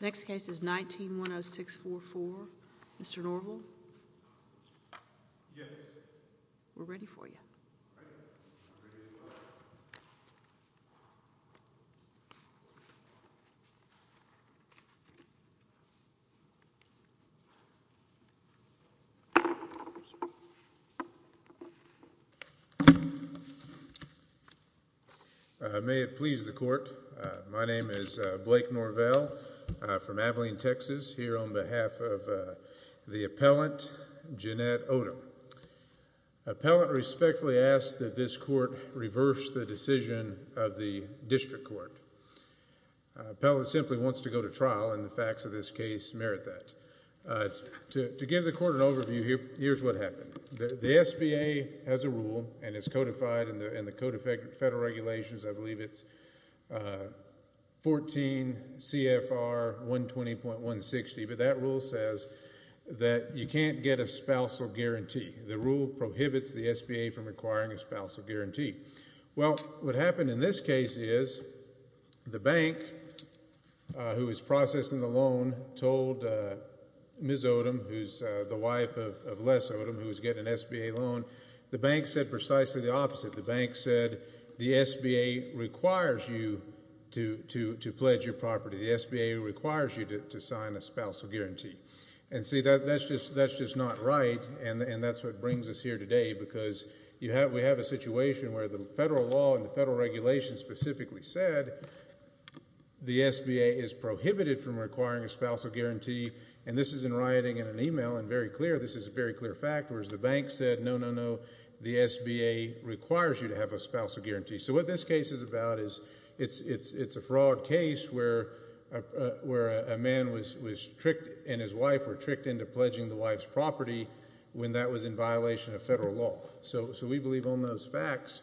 Next case is 19-10644. Mr. Norville? Yes. We're ready for you. My name is Blake Norville from Abilene, Texas, here on behalf of the appellant, Janette Oldham. Appellant respectfully asks that this court reverse the decision of the district court. Appellant simply wants to go to trial, and the facts of this case merit that. To give the court an overview, here's what happened. The SBA has a rule, and it's codified in the Code of Federal Regulations, I believe it's 14 CFR 120.160, but that rule says that you can't get a spousal guarantee. The rule prohibits the SBA from requiring a spousal guarantee. Well, what happened in this case is the bank, who was processing the loan, told Ms. Oldham, who's the wife of Les Oldham, who was getting an SBA loan. The bank said precisely the opposite. The bank said the SBA requires you to pledge your property. The SBA requires you to sign a spousal guarantee. And see, that's just not right, and that's what brings us here today, because we have a situation where the federal law and the federal regulations specifically said the SBA is prohibited from requiring a spousal guarantee. And this is in writing in an e-mail, and very clear, this is a very clear fact, whereas the bank said no, no, no, the SBA requires you to have a spousal guarantee. So what this case is about is it's a fraud case where a man was tricked and his wife were tricked into pledging the wife's property when that was in violation of federal law. So we believe on those facts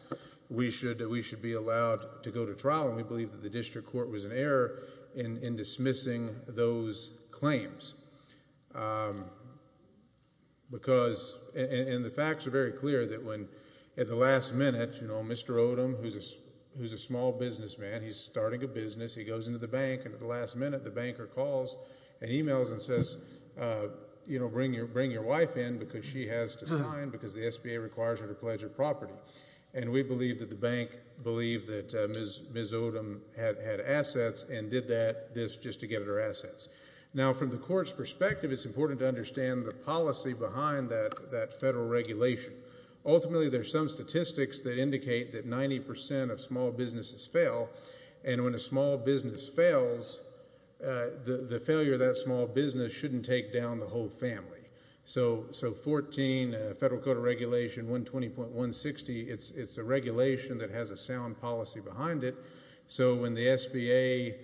we should be allowed to go to trial, and we believe that the district court was in error in dismissing those claims. And the facts are very clear that when at the last minute, you know, Mr. Oldham, who's a small businessman, he's starting a business, he goes into the bank, and at the last minute the banker calls and e-mails and says, you know, bring your wife in because she has to sign because the SBA requires her to pledge her property. And we believe that the bank believed that Ms. Oldham had assets and did this just to get her assets. Now, from the court's perspective, it's important to understand the policy behind that federal regulation. Ultimately, there's some statistics that indicate that 90% of small businesses fail, and when a small business fails, the failure of that small business shouldn't take down the whole family. So 14 Federal Code of Regulation 120.160, it's a regulation that has a sound policy behind it. So when the SBA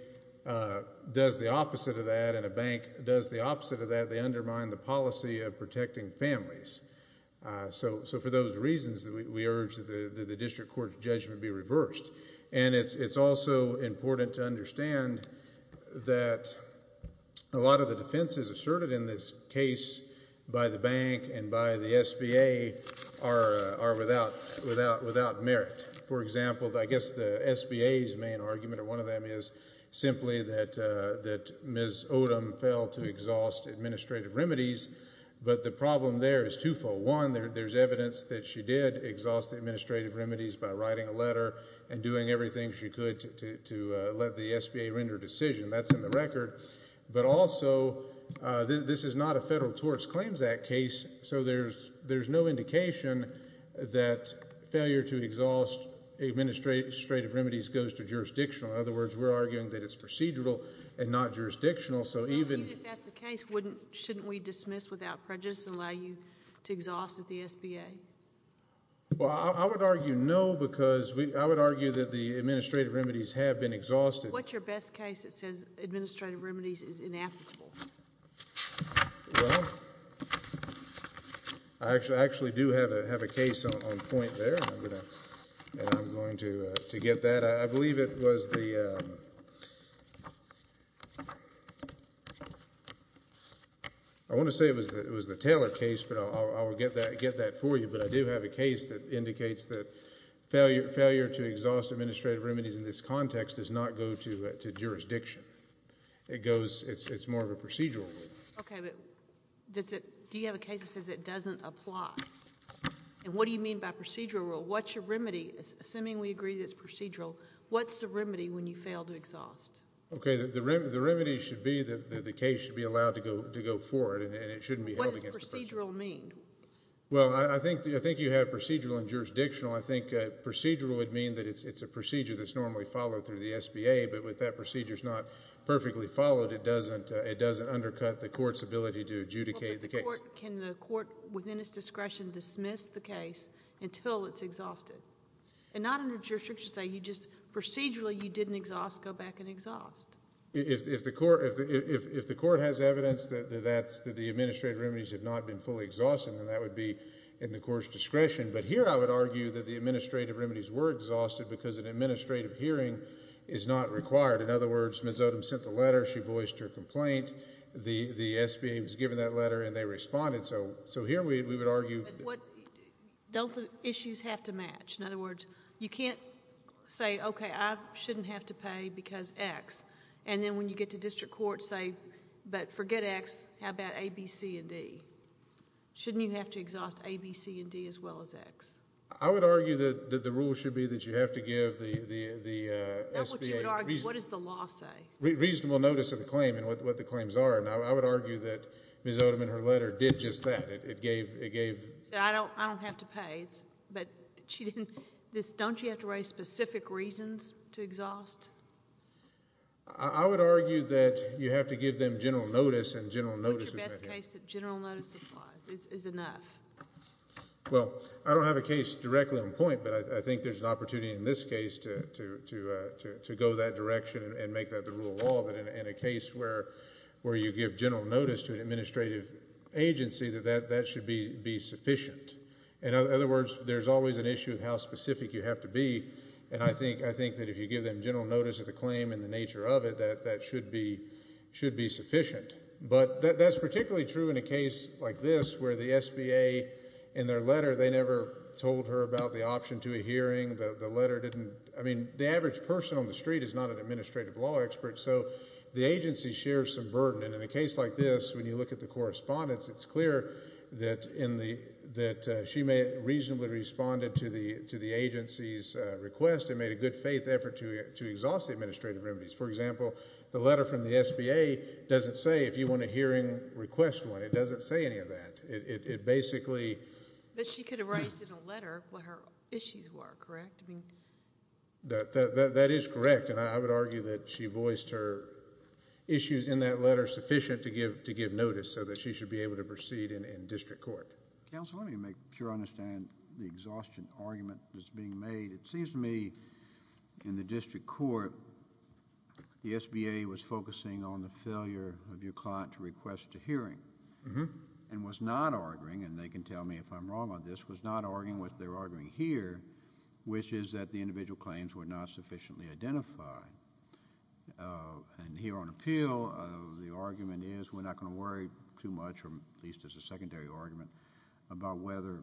does the opposite of that and a bank does the opposite of that, they undermine the policy of protecting families. So for those reasons, we urge that the district court's judgment be reversed. And it's also important to understand that a lot of the defenses asserted in this case by the bank and by the SBA are without merit. For example, I guess the SBA's main argument or one of them is simply that Ms. Oldham failed to exhaust administrative remedies, but the problem there is two-fold. One, there's evidence that she did exhaust the administrative remedies by writing a letter and doing everything she could to let the SBA render a decision. That's in the record. But also, this is not a Federal Torts Claims Act case, so there's no indication that failure to exhaust administrative remedies goes to jurisdictional. In other words, we're arguing that it's procedural and not jurisdictional. Even if that's the case, shouldn't we dismiss without prejudice and allow you to exhaust at the SBA? Well, I would argue no because I would argue that the administrative remedies have been exhausted. What's your best case that says administrative remedies is inapplicable? Well, I actually do have a case on point there, and I'm going to get that. I believe it was the Taylor case, but I'll get that for you. But I do have a case that indicates that failure to exhaust administrative remedies in this context does not go to jurisdiction. It's more of a procedural rule. Okay, but do you have a case that says it doesn't apply? And what do you mean by procedural rule? Assuming we agree that it's procedural, what's the remedy when you fail to exhaust? Okay, the remedy should be that the case should be allowed to go forward, and it shouldn't be held against the person. What does procedural mean? Well, I think you have procedural and jurisdictional. I think procedural would mean that it's a procedure that's normally followed through the SBA, but with that procedure's not perfectly followed, it doesn't undercut the court's ability to adjudicate the case. Can the court, within its discretion, dismiss the case until it's exhausted? And not under jurisdiction, say you just procedurally you didn't exhaust, go back and exhaust. If the court has evidence that the administrative remedies have not been fully exhausted, then that would be in the court's discretion. But here I would argue that the administrative remedies were exhausted because an administrative hearing is not required. In other words, Ms. Odom sent the letter, she voiced her complaint, the SBA was given that letter and they responded, so here we would argue. Don't the issues have to match? In other words, you can't say, okay, I shouldn't have to pay because X, and then when you get to district court say, but forget X, how about A, B, C, and D? Shouldn't you have to exhaust A, B, C, and D as well as X? I would argue that the rule should be that you have to give the SBA reasonable notice of the claim and what the claims are, and I would argue that Ms. Odom in her letter did just that. I don't have to pay, but don't you have to raise specific reasons to exhaust? I would argue that you have to give them general notice and general notice is enough. What's your best case that general notice is enough? Well, I don't have a case directly on point, but I think there's an opportunity in this case to go that direction and make that the rule of law, that in a case where you give general notice to an administrative agency that that should be sufficient. In other words, there's always an issue of how specific you have to be, and I think that if you give them general notice of the claim and the nature of it, that should be sufficient. But that's particularly true in a case like this where the SBA in their letter, they never told her about the option to a hearing. I mean, the average person on the street is not an administrative law expert, so the agency shares some burden, and in a case like this, when you look at the correspondence, it's clear that she may have reasonably responded to the agency's request and made a good faith effort to exhaust the administrative remedies. For example, the letter from the SBA doesn't say if you want a hearing, request one. It doesn't say any of that. It basically... But she could have raised in a letter what her issues were, correct? That is correct, and I would argue that she voiced her issues in that letter sufficient to give notice so that she should be able to proceed in district court. Counsel, let me make sure I understand the exhaustion argument that's being made. It seems to me in the district court, the SBA was focusing on the failure of your client to request a hearing and was not arguing, and they can tell me if I'm wrong on this, was not arguing what they're arguing here, which is that the individual claims were not sufficiently identified. Here on appeal, the argument is we're not going to worry too much, or at least as a secondary argument, about whether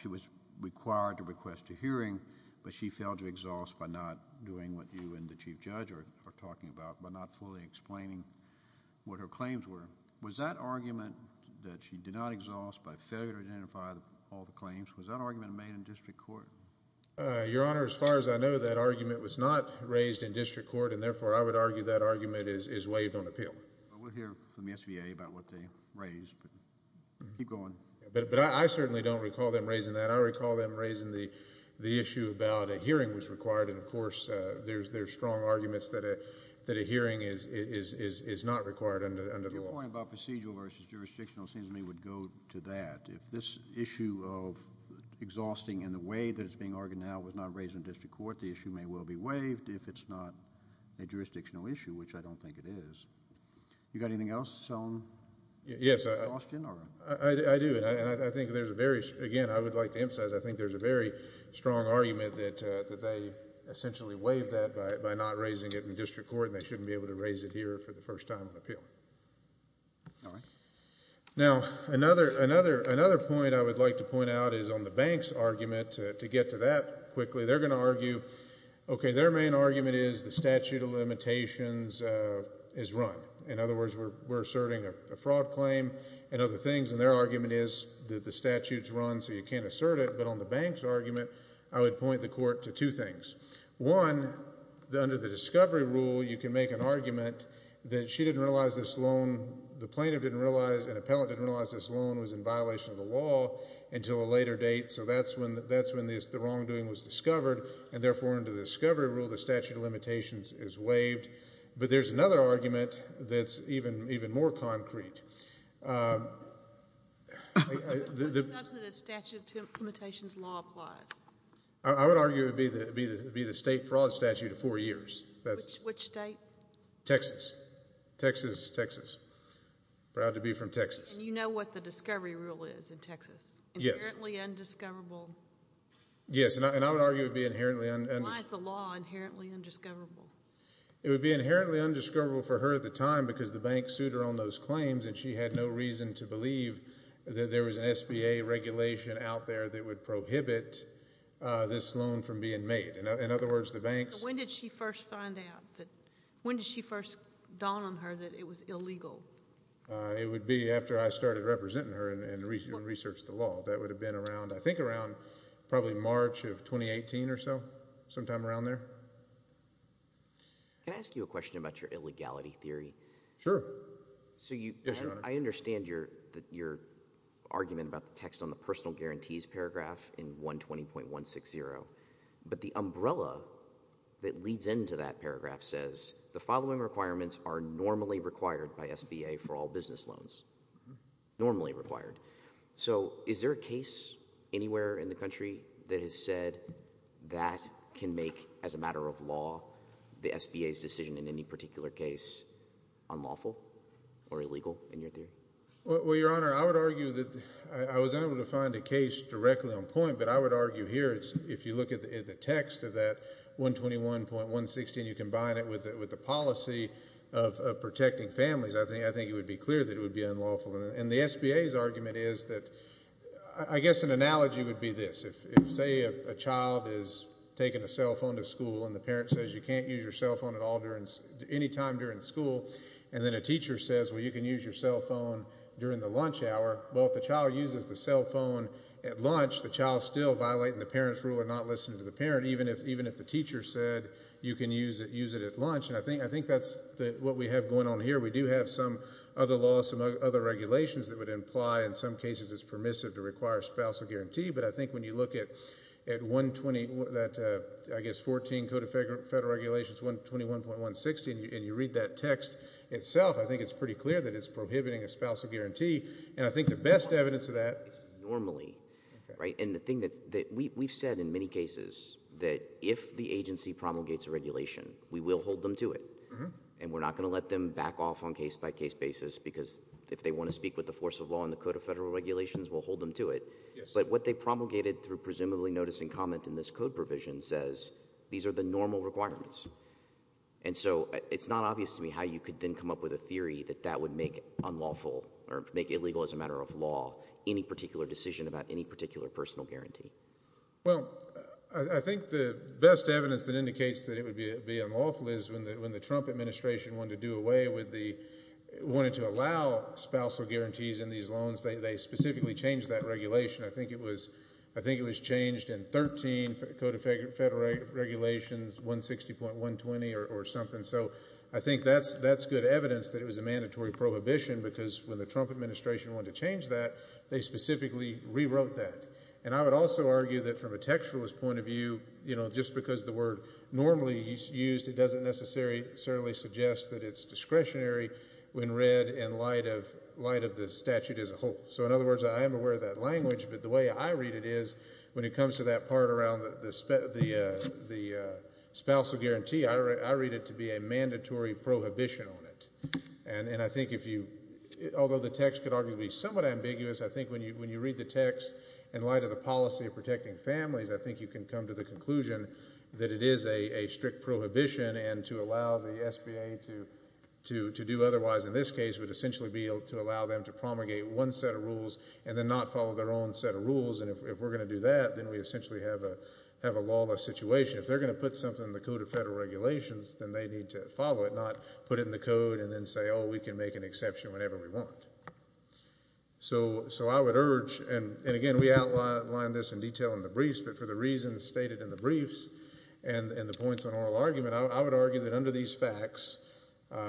she was required to request a hearing, but she failed to exhaust by not doing what you and the chief judge are talking about, by not fully explaining what her claims were. Was that argument that she did not exhaust by failure to identify all the claims, was that argument made in district court? Your Honor, as far as I know, that argument was not raised in district court, and therefore I would argue that argument is waived on appeal. We'll hear from the SBA about what they raised, but keep going. But I certainly don't recall them raising that. I recall them raising the issue about a hearing was required, and, of course, there's strong arguments that a hearing is not required under the law. Your point about procedural versus jurisdictional seems to me would go to that. If this issue of exhausting in the way that it's being argued now was not raised in district court, the issue may well be waived if it's not a jurisdictional issue, which I don't think it is. You got anything else? Yes. I do, and I think there's a very, again, I would like to emphasize, I think there's a very strong argument that they essentially waived that by not raising it in district court and they shouldn't be able to raise it here for the first time on appeal. All right. Now, another point I would like to point out is on the bank's argument. To get to that quickly, they're going to argue, okay, their main argument is the statute of limitations is run. In other words, we're asserting a fraud claim and other things, and their argument is that the statute is run so you can't assert it. But on the bank's argument, I would point the court to two things. One, under the discovery rule, you can make an argument that she didn't realize this loan, the plaintiff didn't realize, an appellant didn't realize this loan was in violation of the law until a later date, so that's when the wrongdoing was discovered, and therefore under the discovery rule, the statute of limitations is waived. But there's another argument that's even more concrete. What substantive statute of limitations law applies? I would argue it would be the state fraud statute of four years. Which state? Texas. Texas is Texas. Proud to be from Texas. And you know what the discovery rule is in Texas? Yes. Inherently undiscoverable. Yes, and I would argue it would be inherently undiscoverable. Why is the law inherently undiscoverable? It would be inherently undiscoverable for her at the time because the bank sued her on those claims and she had no reason to believe that there was an SBA regulation out there that would prohibit this loan from being made. In other words, the bank's So when did she first find out? When did she first dawn on her that it was illegal? It would be after I started representing her and researched the law. I think around probably March of 2018 or so. Sometime around there. Can I ask you a question about your illegality theory? Sure. I understand your argument about the text on the personal guarantees paragraph in 120.160. But the umbrella that leads into that paragraph says the following requirements are normally required by SBA for all business loans. Normally required. So is there a case anywhere in the country that has said that can make, as a matter of law, the SBA's decision in any particular case unlawful or illegal in your theory? Well, Your Honor, I would argue that I was able to find a case directly on point, but I would argue here if you look at the text of that 121.160 and you combine it with the policy of protecting families, I think it would be clear that it would be unlawful. And the SBA's argument is that I guess an analogy would be this. If, say, a child is taking a cell phone to school and the parent says you can't use your cell phone at all any time during school, and then a teacher says, well, you can use your cell phone during the lunch hour, well, if the child uses the cell phone at lunch, the child's still violating the parent's rule of not listening to the parent, even if the teacher said you can use it at lunch. And I think that's what we have going on here. We do have some other laws, some other regulations that would imply in some cases it's permissive to require a spousal guarantee. But I think when you look at that, I guess, 14 Code of Federal Regulations, 121.160, and you read that text itself, I think it's pretty clear that it's prohibiting a spousal guarantee. And I think the best evidence of that is normally, right? And the thing that we've said in many cases that if the agency promulgates a regulation, we will hold them to it. And we're not going to let them back off on case-by-case basis, because if they want to speak with the force of law and the Code of Federal Regulations, we'll hold them to it. But what they promulgated through presumably noticing comment in this code provision says these are the normal requirements. And so it's not obvious to me how you could then come up with a theory that that would make unlawful or make illegal as a matter of law any particular decision about any particular personal guarantee. Well, I think the best evidence that indicates that it would be unlawful is when the Trump administration wanted to do away with the – wanted to allow spousal guarantees in these loans, they specifically changed that regulation. I think it was – I think it was changed in 13 Code of Federal Regulations, 160.120 or something. So I think that's good evidence that it was a mandatory prohibition, because when the Trump administration wanted to change that, they specifically rewrote that. And I would also argue that from a textualist point of view, just because the word normally is used, it doesn't necessarily suggest that it's discretionary when read in light of the statute as a whole. So in other words, I am aware of that language, but the way I read it is when it comes to that part around the spousal guarantee, I read it to be a mandatory prohibition on it. And I think if you – although the text could arguably be somewhat ambiguous, I think when you read the text in light of the policy of protecting families, I think you can come to the conclusion that it is a strict prohibition, and to allow the SBA to do otherwise in this case would essentially be to allow them to promulgate one set of rules and then not follow their own set of rules. And if we're going to do that, then we essentially have a lawless situation. If they're going to put something in the Code of Federal Regulations, then they need to follow it, not put it in the code and then say, oh, we can make an exception whenever we want. So I would urge – and again, we outlined this in detail in the briefs, but for the reasons stated in the briefs and the points on oral argument, I would argue that under these facts,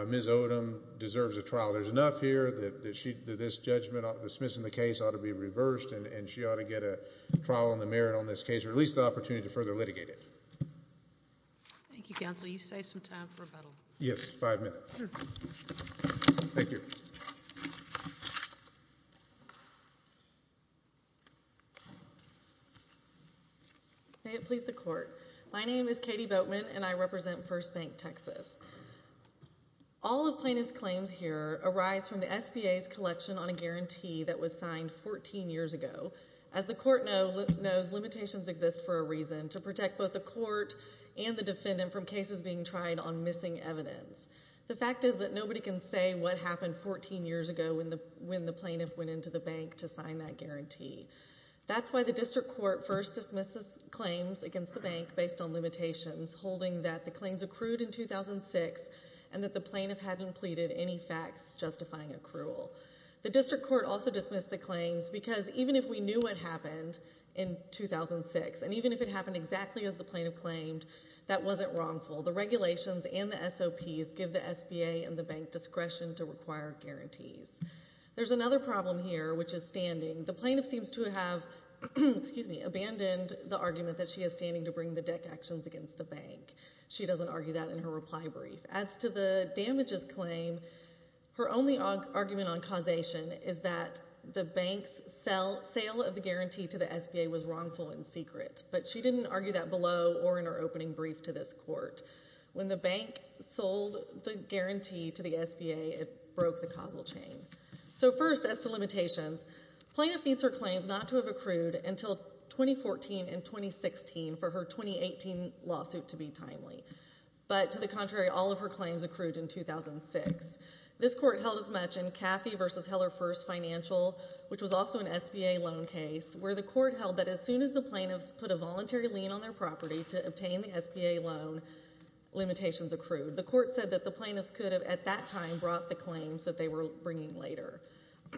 Ms. Odom deserves a trial. There's enough here that this judgment dismissing the case ought to be reversed and she ought to get a trial on the merit on this case or at least the opportunity to further litigate it. Thank you, counsel. You've saved some time for rebuttal. Yes, five minutes. Thank you. May it please the Court. My name is Katie Boatman and I represent First Bank, Texas. All of plaintiff's claims here arise from the SBA's collection on a guarantee that was signed 14 years ago. As the Court knows, limitations exist for a reason to protect both the Court and the defendant from cases being tried on missing evidence. The fact is that nobody can say what happened 14 years ago when the plaintiff went into the bank to sign that guarantee. That's why the District Court first dismisses claims against the bank based on limitations, holding that the claims accrued in 2006 and that the plaintiff hadn't pleaded any facts justifying accrual. The District Court also dismissed the claims because even if we knew what happened in 2006 and even if it happened exactly as the plaintiff claimed, that wasn't wrongful. The regulations and the SOPs give the SBA and the bank discretion to require guarantees. There's another problem here, which is standing. The plaintiff seems to have abandoned the argument that she is standing to bring the deck actions against the bank. She doesn't argue that in her reply brief. As to the damages claim, her only argument on causation is that the bank's sale of the guarantee to the SBA was wrongful and secret, but she didn't argue that below or in her opening brief to this Court. When the bank sold the guarantee to the SBA, it broke the causal chain. So first, as to limitations, the plaintiff needs her claims not to have accrued until 2014 and 2016 for her 2018 lawsuit to be timely, but to the contrary, all of her claims accrued in 2006. This Court held as much in Caffey v. Heller First Financial, which was also an SBA loan case, where the Court held that as soon as the plaintiffs put a voluntary lien on their property to obtain the SBA loan, limitations accrued. The Court said that the plaintiffs could have at that time brought the claims that they were bringing later.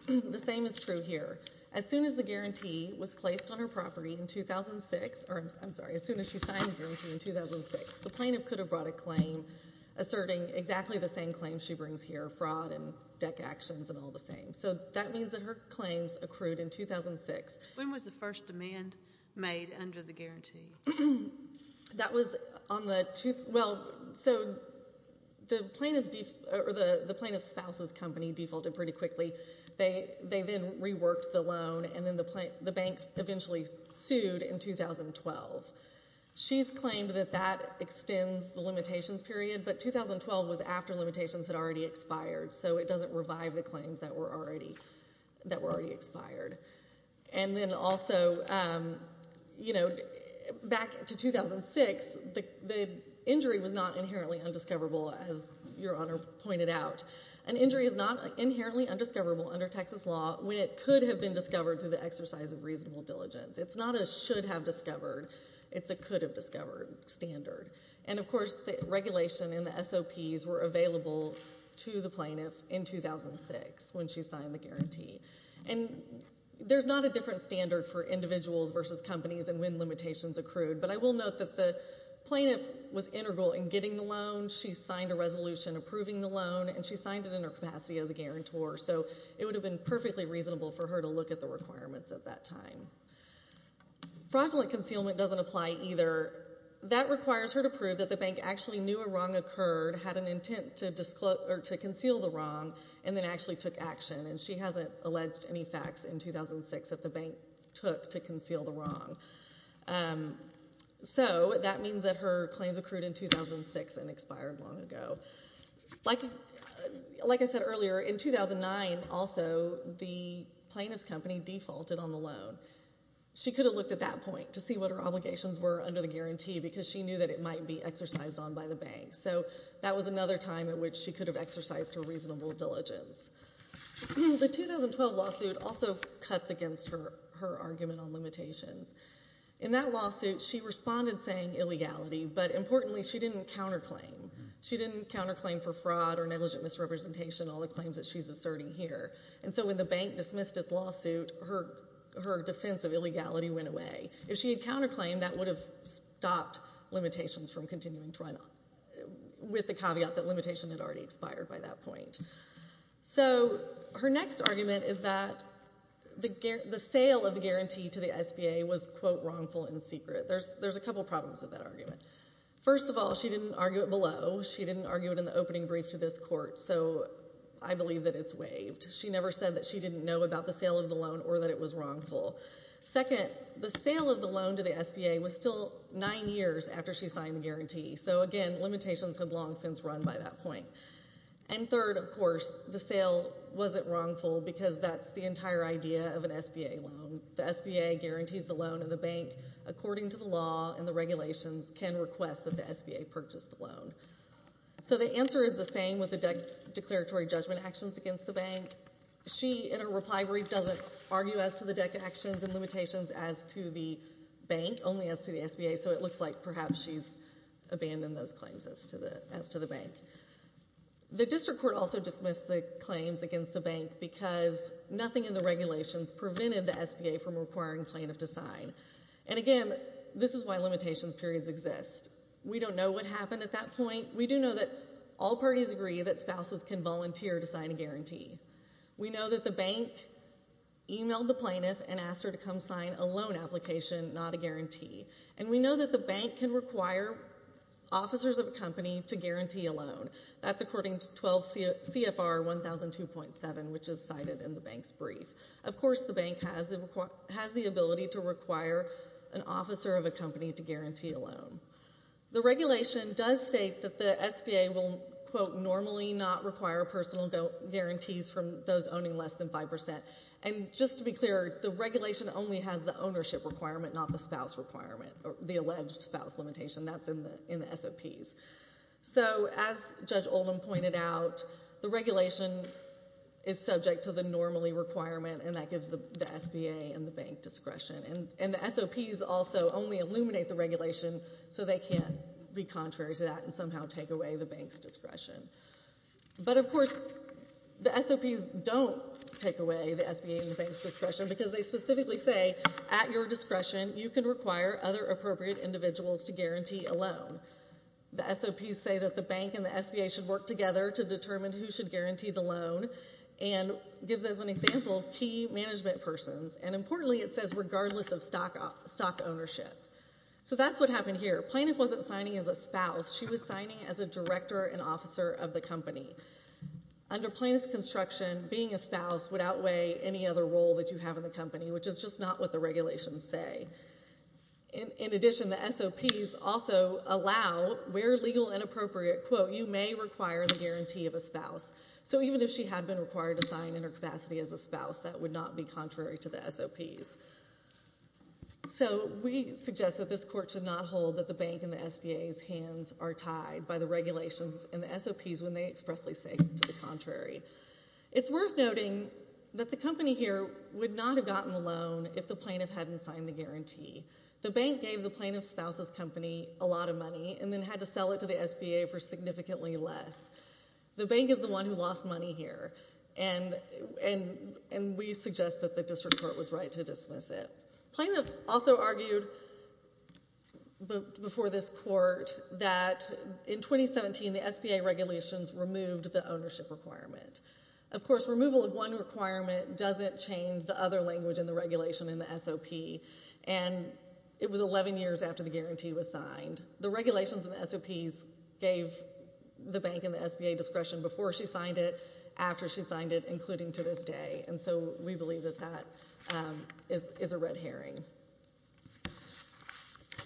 The same is true here. As soon as the guarantee was placed on her property in 2006, or I'm sorry, as soon as she signed the guarantee in 2006, the plaintiff could have brought a claim asserting exactly the same claims she brings here, fraud and deck actions and all the same. So that means that her claims accrued in 2006. When was the first demand made under the guarantee? That was on the – well, so the plaintiff's – or the plaintiff's spouse's company defaulted pretty quickly. They then reworked the loan, and then the bank eventually sued in 2012. She's claimed that that extends the limitations period, but 2012 was after limitations had already expired, so it doesn't revive the claims that were already expired. And then also, you know, back to 2006, the injury was not inherently undiscoverable, as Your Honor pointed out. An injury is not inherently undiscoverable under Texas law when it could have been discovered through the exercise of reasonable diligence. It's not a should-have-discovered. It's a could-have-discovered standard. And, of course, the regulation and the SOPs were available to the plaintiff in 2006 when she signed the guarantee. And there's not a different standard for individuals versus companies and when limitations accrued, but I will note that the plaintiff was integral in getting the loan. She signed a resolution approving the loan, and she signed it in her capacity as a guarantor, so it would have been perfectly reasonable for her to look at the requirements at that time. Fraudulent concealment doesn't apply either. That requires her to prove that the bank actually knew a wrong occurred, had an intent to conceal the wrong, and then actually took action, and she hasn't alleged any facts in 2006 that the bank took to conceal the wrong. So that means that her claims accrued in 2006 and expired long ago. Like I said earlier, in 2009, also, the plaintiff's company defaulted on the loan. She could have looked at that point to see what her obligations were under the guarantee because she knew that it might be exercised on by the bank. So that was another time at which she could have exercised her reasonable diligence. The 2012 lawsuit also cuts against her argument on limitations. In that lawsuit, she responded saying illegality, but, importantly, she didn't counterclaim. She didn't counterclaim for fraud or negligent misrepresentation, all the claims that she's asserting here. And so when the bank dismissed its lawsuit, her defense of illegality went away. If she had counterclaimed, that would have stopped limitations from continuing to run with the caveat that limitation had already expired by that point. So her next argument is that the sale of the guarantee to the SBA was, quote, wrongful and secret. There's a couple problems with that argument. First of all, she didn't argue it below. She didn't argue it in the opening brief to this court. So I believe that it's waived. She never said that she didn't know about the sale of the loan or that it was wrongful. Second, the sale of the loan to the SBA was still nine years after she signed the guarantee. So, again, limitations had long since run by that point. And third, of course, the sale wasn't wrongful because that's the entire idea of an SBA loan. The SBA guarantees the loan and the bank, according to the law and the regulations, can request that the SBA purchase the loan. So the answer is the same with the declaratory judgment actions against the bank. She, in her reply brief, doesn't argue as to the actions and limitations as to the bank, only as to the SBA. So it looks like perhaps she's abandoned those claims as to the bank. The district court also dismissed the claims against the bank because nothing in the regulations prevented the SBA from requiring plaintiff to sign. And, again, this is why limitations periods exist. We don't know what happened at that point. We do know that all parties agree that spouses can volunteer to sign a guarantee. We know that the bank emailed the plaintiff and asked her to come sign a loan application, not a guarantee. And we know that the bank can require officers of a company to guarantee a loan. That's according to 12 CFR 1002.7, which is cited in the bank's brief. Of course the bank has the ability to require an officer of a company to guarantee a loan. The regulation does state that the SBA will, quote, normally not require personal guarantees from those owning less than 5%. And just to be clear, the regulation only has the ownership requirement, not the spouse requirement or the alleged spouse limitation that's in the SOPs. So as Judge Oldham pointed out, the regulation is subject to the normally requirement, and that gives the SBA and the bank discretion. And the SOPs also only illuminate the regulation so they can't be contrary to that and somehow take away the bank's discretion. But, of course, the SOPs don't take away the SBA and the bank's discretion because they specifically say at your discretion you can require other appropriate individuals to guarantee a loan. The SOPs say that the bank and the SBA should work together to determine who should guarantee the loan and gives, as an example, key management persons. And importantly, it says regardless of stock ownership. So that's what happened here. Plaintiff wasn't signing as a spouse. She was signing as a director and officer of the company. Under plaintiff's construction, being a spouse would outweigh any other role that you have in the company, which is just not what the regulations say. In addition, the SOPs also allow, where legal and appropriate, quote, you may require the guarantee of a spouse. So even if she had been required to sign in her capacity as a spouse, that would not be contrary to the SOPs. So we suggest that this court should not hold that the bank and the SBA's hands are tied by the regulations and the SOPs when they expressly say to the contrary. It's worth noting that the company here would not have gotten the loan if the plaintiff hadn't signed the guarantee. The bank gave the plaintiff's spouse's company a lot of money and then had to sell it to the SBA for significantly less. The bank is the one who lost money here, and we suggest that the district court was right to dismiss it. Plaintiff also argued before this court that in 2017 the SBA regulations removed the ownership requirement. Of course, removal of one requirement doesn't change the other language in the regulation in the SOP, and it was 11 years after the guarantee was signed. The regulations in the SOPs gave the bank and the SBA discretion before she signed it, after she signed it, including to this day. And so we believe that that is a red herring.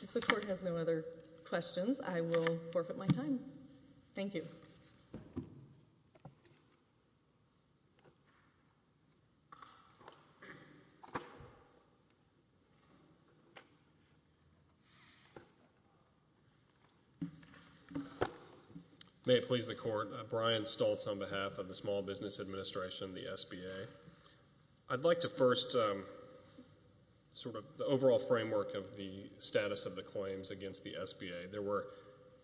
If the court has no other questions, I will forfeit my time. Thank you. May it please the court. Brian Stultz on behalf of the Small Business Administration, the SBA. I'd like to first sort of the overall framework of the status of the claims against the SBA. There were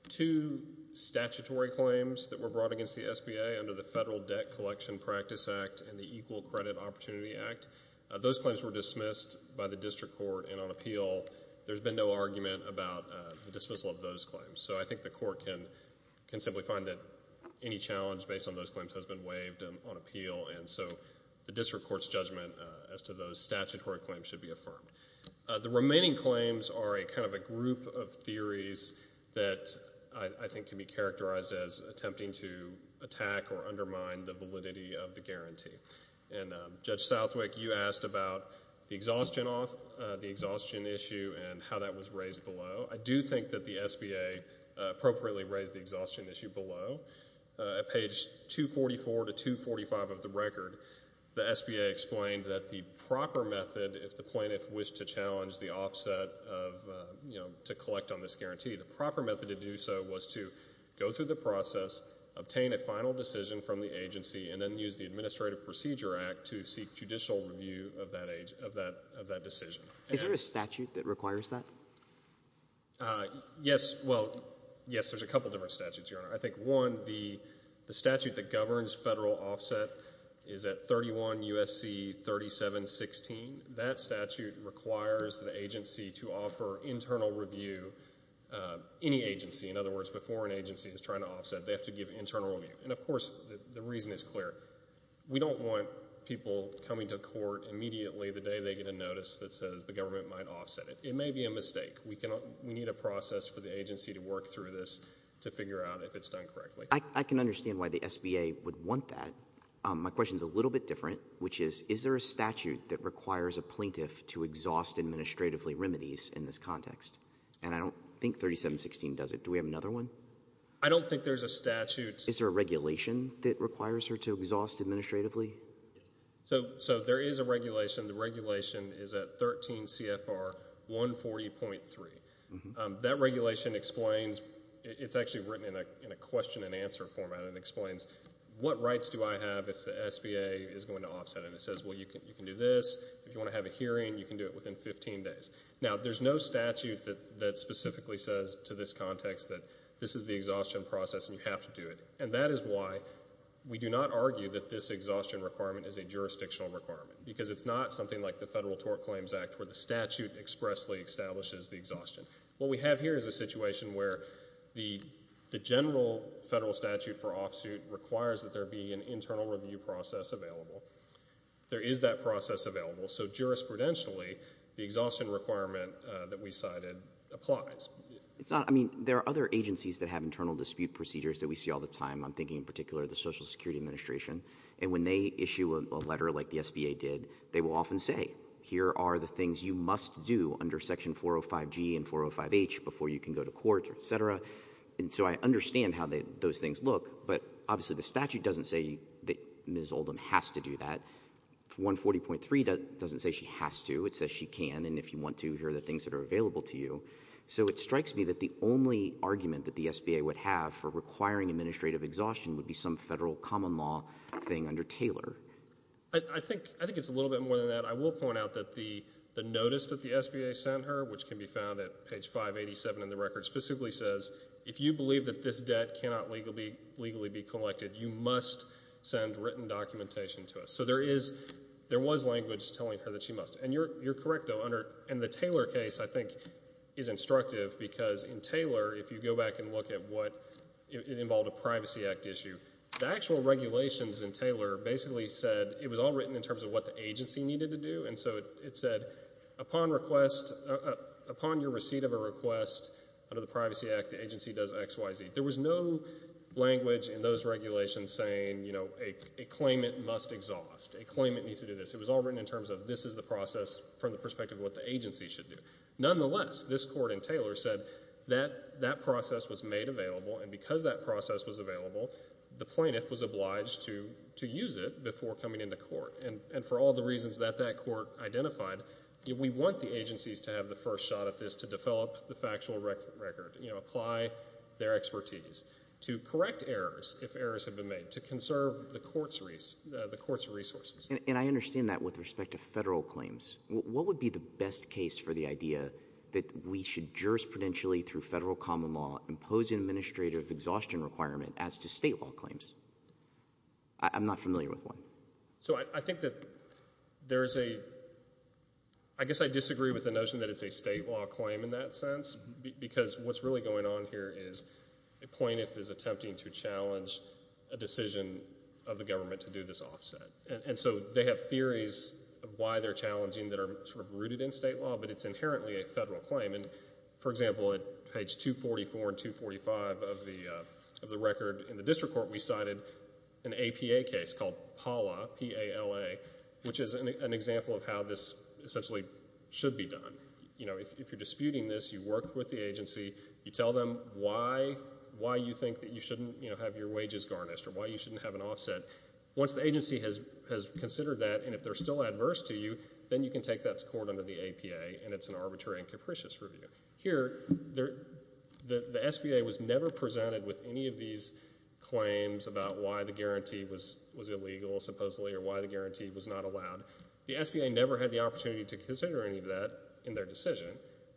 two statutory claims that were brought against the SBA under the Federal Debt Collection Practice Act and the Equal Credit Opportunity Act. Those claims were dismissed by the district court, and on appeal, there's been no argument about the dismissal of those claims. So I think the court can simply find that any challenge based on those claims has been waived on appeal, and so the district court's judgment as to those statutory claims should be affirmed. The remaining claims are a kind of a group of theories that I think can be characterized as attempting to attack or undermine the validity of the guarantee. And Judge Southwick, you asked about the exhaustion issue and how that was raised below. I do think that the SBA appropriately raised the exhaustion issue below. At page 244 to 245 of the record, the SBA explained that the proper method, if the plaintiff wished to challenge the offset of, you know, to collect on this guarantee, the proper method to do so was to go through the process, obtain a final decision from the agency, and then use the Administrative Procedure Act to seek judicial review of that decision. Is there a statute that requires that? Yes. Well, yes, there's a couple different statutes, Your Honor. I think, one, the statute that governs federal offset is at 31 U.S.C. 3716. That statute requires the agency to offer internal review, any agency. In other words, before an agency is trying to offset, they have to give internal review. And, of course, the reason is clear. We don't want people coming to court immediately the day they get a notice that says the government might offset it. It may be a mistake. We need a process for the agency to work through this to figure out if it's done correctly. I can understand why the SBA would want that. My question is a little bit different, which is, is there a statute that requires a plaintiff to exhaust administratively remedies in this context? And I don't think 3716 does it. Do we have another one? I don't think there's a statute. Is there a regulation that requires her to exhaust administratively? So there is a regulation. The regulation is at 13 CFR 140.3. That regulation explains, it's actually written in a question and answer format, and it explains what rights do I have if the SBA is going to offset it. And it says, well, you can do this. If you want to have a hearing, you can do it within 15 days. Now, there's no statute that specifically says to this context that this is the exhaustion process and you have to do it. And that is why we do not argue that this exhaustion requirement is a jurisdictional requirement because it's not something like the Federal Tort Claims Act where the statute expressly establishes the exhaustion. What we have here is a situation where the general federal statute for offsuit requires that there be an internal review process available. There is that process available. So jurisprudentially, the exhaustion requirement that we cited applies. I mean, there are other agencies that have internal dispute procedures that we see all the time. I'm thinking in particular of the Social Security Administration. And when they issue a letter like the SBA did, they will often say, here are the things you must do under Section 405G and 405H before you can go to court, et cetera. And so I understand how those things look. But obviously the statute doesn't say that Ms. Oldham has to do that. 140.3 doesn't say she has to. It says she can, and if you want to, here are the things that are available to you. So it strikes me that the only argument that the SBA would have for requiring administrative exhaustion would be some federal common law thing under Taylor. I think it's a little bit more than that. I will point out that the notice that the SBA sent her, which can be found at page 587 in the record, specifically says if you believe that this debt cannot legally be collected, you must send written documentation to us. So there was language telling her that she must. And you're correct, though, and the Taylor case, I think, is instructive because in Taylor, if you go back and look at what involved a Privacy Act issue, the actual regulations in Taylor basically said it was all written in terms of what the agency needed to do. And so it said upon your receipt of a request under the Privacy Act, the agency does X, Y, Z. There was no language in those regulations saying, you know, a claimant must exhaust. A claimant needs to do this. It was all written in terms of this is the process from the perspective of what the agency should do. Nonetheless, this court in Taylor said that that process was made available, and because that process was available, the plaintiff was obliged to use it before coming into court. And for all the reasons that that court identified, we want the agencies to have the first shot at this to develop the factual record, you know, apply their expertise to correct errors if errors have been made, to conserve the court's resources. And I understand that with respect to federal claims. What would be the best case for the idea that we should jurisprudentially through federal common law impose an administrative exhaustion requirement as to state law claims? I'm not familiar with one. So I think that there is a—I guess I disagree with the notion that it's a state law claim in that sense because what's really going on here is a plaintiff is attempting to challenge a decision of the government to do this offset. And so they have theories of why they're challenging that are sort of rooted in state law, but it's inherently a federal claim. And, for example, at page 244 and 245 of the record in the district court, we cited an APA case called PALA, P-A-L-A, which is an example of how this essentially should be done. You know, if you're disputing this, you work with the agency, you tell them why you think that you shouldn't have your wages garnished or why you shouldn't have an offset. Once the agency has considered that and if they're still adverse to you, then you can take that to court under the APA, and it's an arbitrary and capricious review. Here, the SBA was never presented with any of these claims about why the guarantee was illegal, supposedly, or why the guarantee was not allowed. The SBA never had the opportunity to consider any of that in their decision,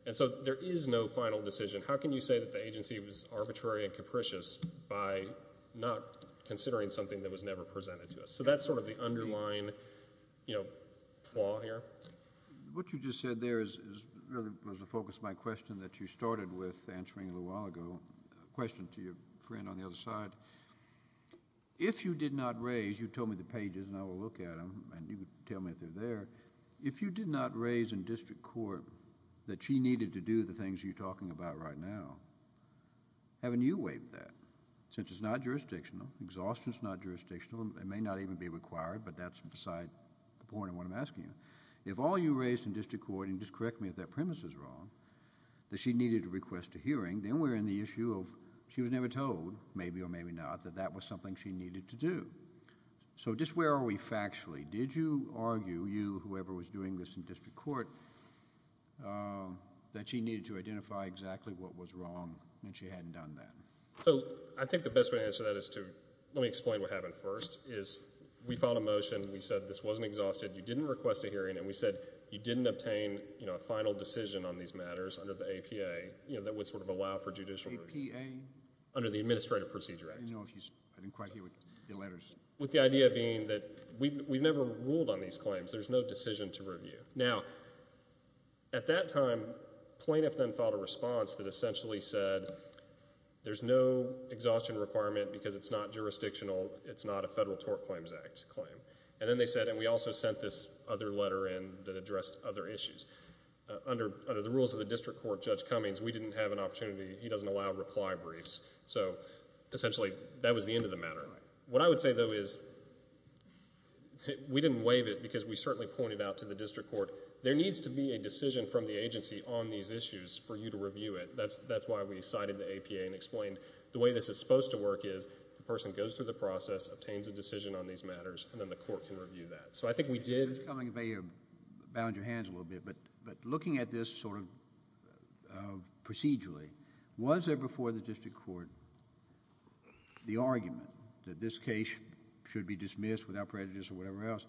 and so there is no final decision. How can you say that the agency was arbitrary and capricious by not considering something that was never presented to us? So that's sort of the underlying flaw here. What you just said there was a focus of my question that you started with answering a little while ago, a question to your friend on the other side. If you did not raise—you told me the pages, and I will look at them, and you can tell me if they're there— if you did not raise in district court that she needed to do the things you're talking about right now, haven't you waived that? Since it's not jurisdictional, exhaustion is not jurisdictional. It may not even be required, but that's beside the point of what I'm asking you. If all you raised in district court—and just correct me if that premise is wrong— that she needed to request a hearing, then we're in the issue of she was never told, maybe or maybe not, that that was something she needed to do. So just where are we factually? Did you argue, you, whoever was doing this in district court, that she needed to identify exactly what was wrong and she hadn't done that? So I think the best way to answer that is to—let me explain what happened first— is we filed a motion, we said this wasn't exhausted, you didn't request a hearing, and we said you didn't obtain a final decision on these matters under the APA that would sort of allow for judicial review. APA? Under the Administrative Procedure Act. I didn't quite hear the letters. With the idea being that we've never ruled on these claims. There's no decision to review. Now, at that time, plaintiffs then filed a response that essentially said there's no exhaustion requirement because it's not jurisdictional, it's not a Federal Tort Claims Act claim. And then they said—and we also sent this other letter in that addressed other issues. Under the rules of the district court, Judge Cummings, we didn't have an opportunity. He doesn't allow reply briefs. So essentially that was the end of the matter. What I would say, though, is we didn't waive it because we certainly pointed out to the district court there needs to be a decision from the agency on these issues for you to review it. That's why we cited the APA and explained the way this is supposed to work is the person goes through the process, obtains a decision on these matters, and then the court can review that. So I think we did— Judge Cummings, if I may have bound your hands a little bit, but looking at this sort of procedurally, was there before the district court the argument that this case should be dismissed without prejudice or whatever else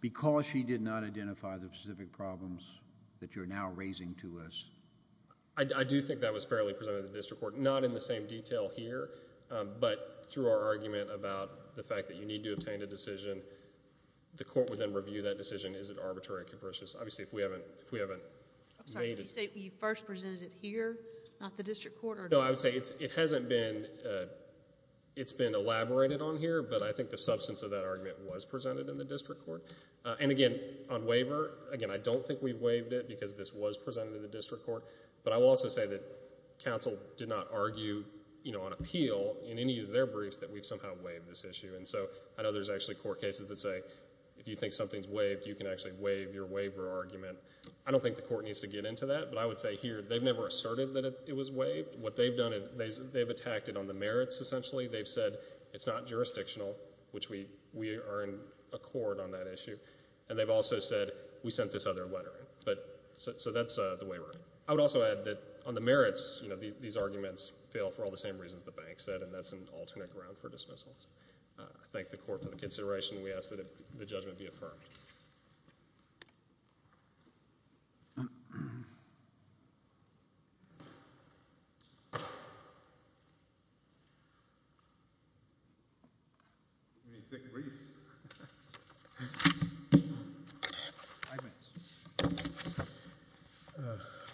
because she did not identify the specific problems that you're now raising to us? I do think that was fairly presented to the district court. Not in the same detail here, but through our argument about the fact that you need to obtain a decision, the court would then review that decision. Is it arbitrary or capricious? Obviously, if we haven't made it— No, I would say it hasn't been—it's been elaborated on here, but I think the substance of that argument was presented in the district court. And again, on waiver, again, I don't think we've waived it because this was presented to the district court, but I will also say that counsel did not argue on appeal in any of their briefs that we've somehow waived this issue. And so I know there's actually court cases that say if you think something's waived, you can actually waive your waiver argument. I don't think the court needs to get into that, but I would say here they've never asserted that it was waived. What they've done is they've attacked it on the merits, essentially. They've said it's not jurisdictional, which we are in accord on that issue, and they've also said we sent this other letter in. So that's the waiver. I would also add that on the merits, you know, these arguments fail for all the same reasons the bank said, and that's an alternate ground for dismissals. I thank the court for the consideration. We ask that the judgment be affirmed. Thank you. Any thick briefs? Five minutes.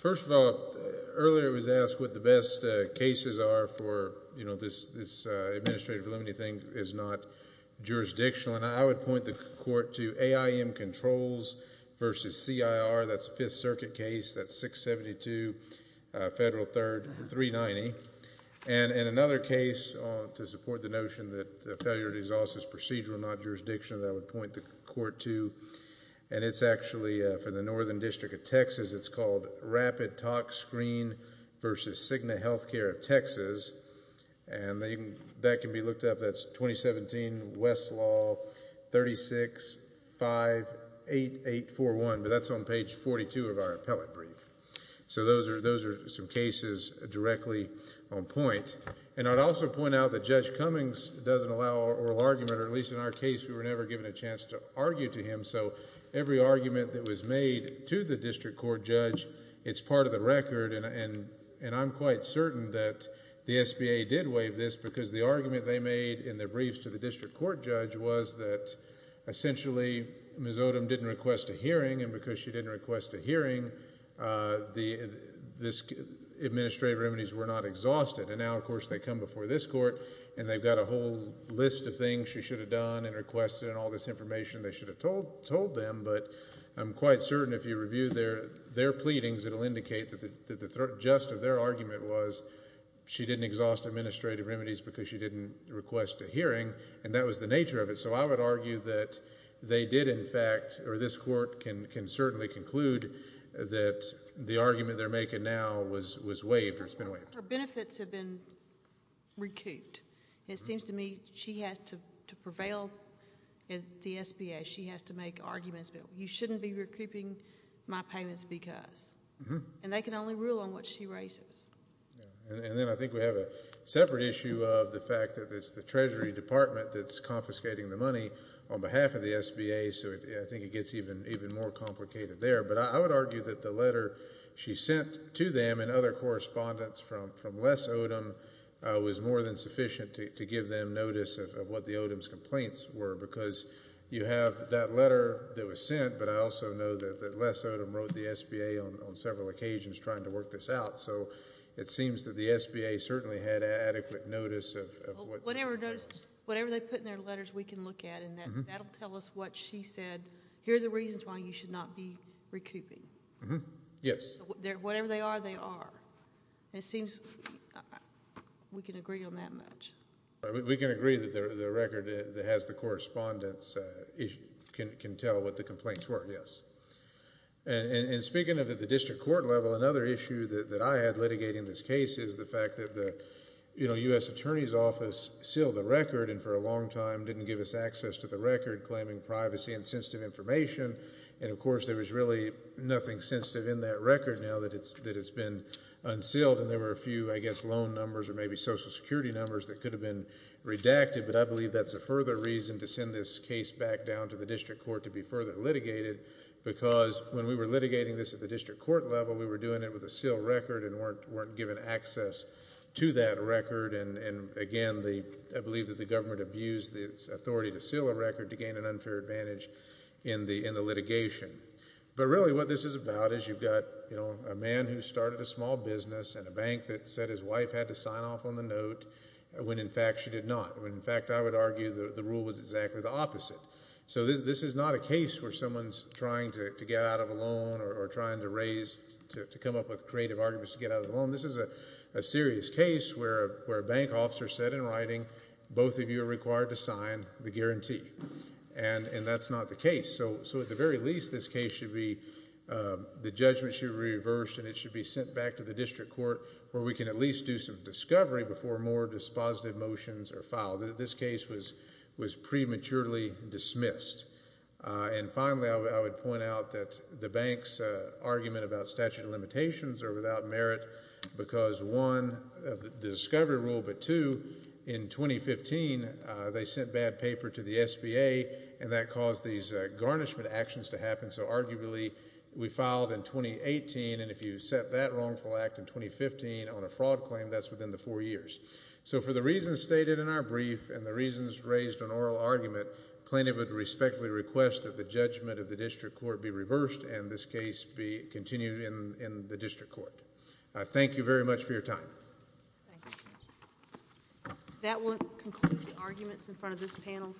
First of all, earlier it was asked what the best cases are for, you know, this administrative validity thing is not jurisdictional, and I would point the court to AIM Controls v. CIR. That's a Fifth Circuit case. That's 672 Federal 3rd, 390. And another case to support the notion that failure to dissolve is procedural, not jurisdictional, that I would point the court to, and it's actually for the Northern District of Texas. It's called Rapid Talk Screen v. Cigna Healthcare of Texas, and that can be looked up. That's 2017 Westlaw 36-58841, but that's on page 42 of our appellate brief. So those are some cases directly on point. And I'd also point out that Judge Cummings doesn't allow oral argument, or at least in our case we were never given a chance to argue to him, so every argument that was made to the district court judge, it's part of the record, and I'm quite certain that the SBA did waive this because the argument they made in their briefs to the district court judge was that essentially Ms. Odom didn't request a hearing, and because she didn't request a hearing, the administrative remedies were not exhausted. And now, of course, they come before this court and they've got a whole list of things she should have done and requested and all this information they should have told them, but I'm quite certain if you review their pleadings, it will indicate that the just of their argument was she didn't exhaust administrative remedies because she didn't request a hearing, and that was the nature of it. So I would argue that they did, in fact, or this court can certainly conclude that the argument they're making now was waived or has been waived. Her benefits have been recouped. It seems to me she has to prevail at the SBA. She has to make arguments. You shouldn't be recouping my payments because. And they can only rule on what she raises. And then I think we have a separate issue of the fact that there's a department that's confiscating the money on behalf of the SBA, so I think it gets even more complicated there. But I would argue that the letter she sent to them and other correspondents from Les Odom was more than sufficient to give them notice of what the Odom's complaints were because you have that letter that was sent, but I also know that Les Odom wrote the SBA on several occasions trying to work this out. So it seems that the SBA certainly had adequate notice of what. Whatever they put in their letters we can look at, and that will tell us what she said. Here are the reasons why you should not be recouping. Yes. Whatever they are, they are. It seems we can agree on that much. We can agree that the record that has the correspondence can tell what the complaints were, yes. And speaking of at the district court level, another issue that I had litigating this case is the fact that the U.S. Attorney's Office sealed the record and for a long time didn't give us access to the record claiming privacy and sensitive information, and of course there was really nothing sensitive in that record now that it's been unsealed, and there were a few, I guess, loan numbers or maybe Social Security numbers that could have been redacted, but I believe that's a further reason to send this case back down to the district court to be further litigated because when we were litigating this at the district court level we were doing it with a sealed record and weren't given access to that record, and again I believe that the government abused its authority to seal a record to gain an unfair advantage in the litigation. But really what this is about is you've got a man who started a small business and a bank that said his wife had to sign off on the note when in fact she did not, when in fact I would argue the rule was exactly the opposite. So this is not a case where someone's trying to get out of a loan or trying to come up with creative arguments to get out of a loan. This is a serious case where a bank officer said in writing, both of you are required to sign the guarantee, and that's not the case. So at the very least this case should be, the judgment should be reversed and it should be sent back to the district court where we can at least do some discovery before more dispositive motions are filed. This case was prematurely dismissed. And finally I would point out that the bank's argument about statute of limitations are without merit because one, the discovery rule, but two, in 2015 they sent bad paper to the SBA and that caused these garnishment actions to happen. So arguably we filed in 2018, and if you set that wrongful act in 2015 on a fraud claim, that's within the four years. So for the reasons stated in our brief and the reasons raised in oral argument, plaintiff would respectfully request that the judgment of the district court be reversed and this case be continued in the district court.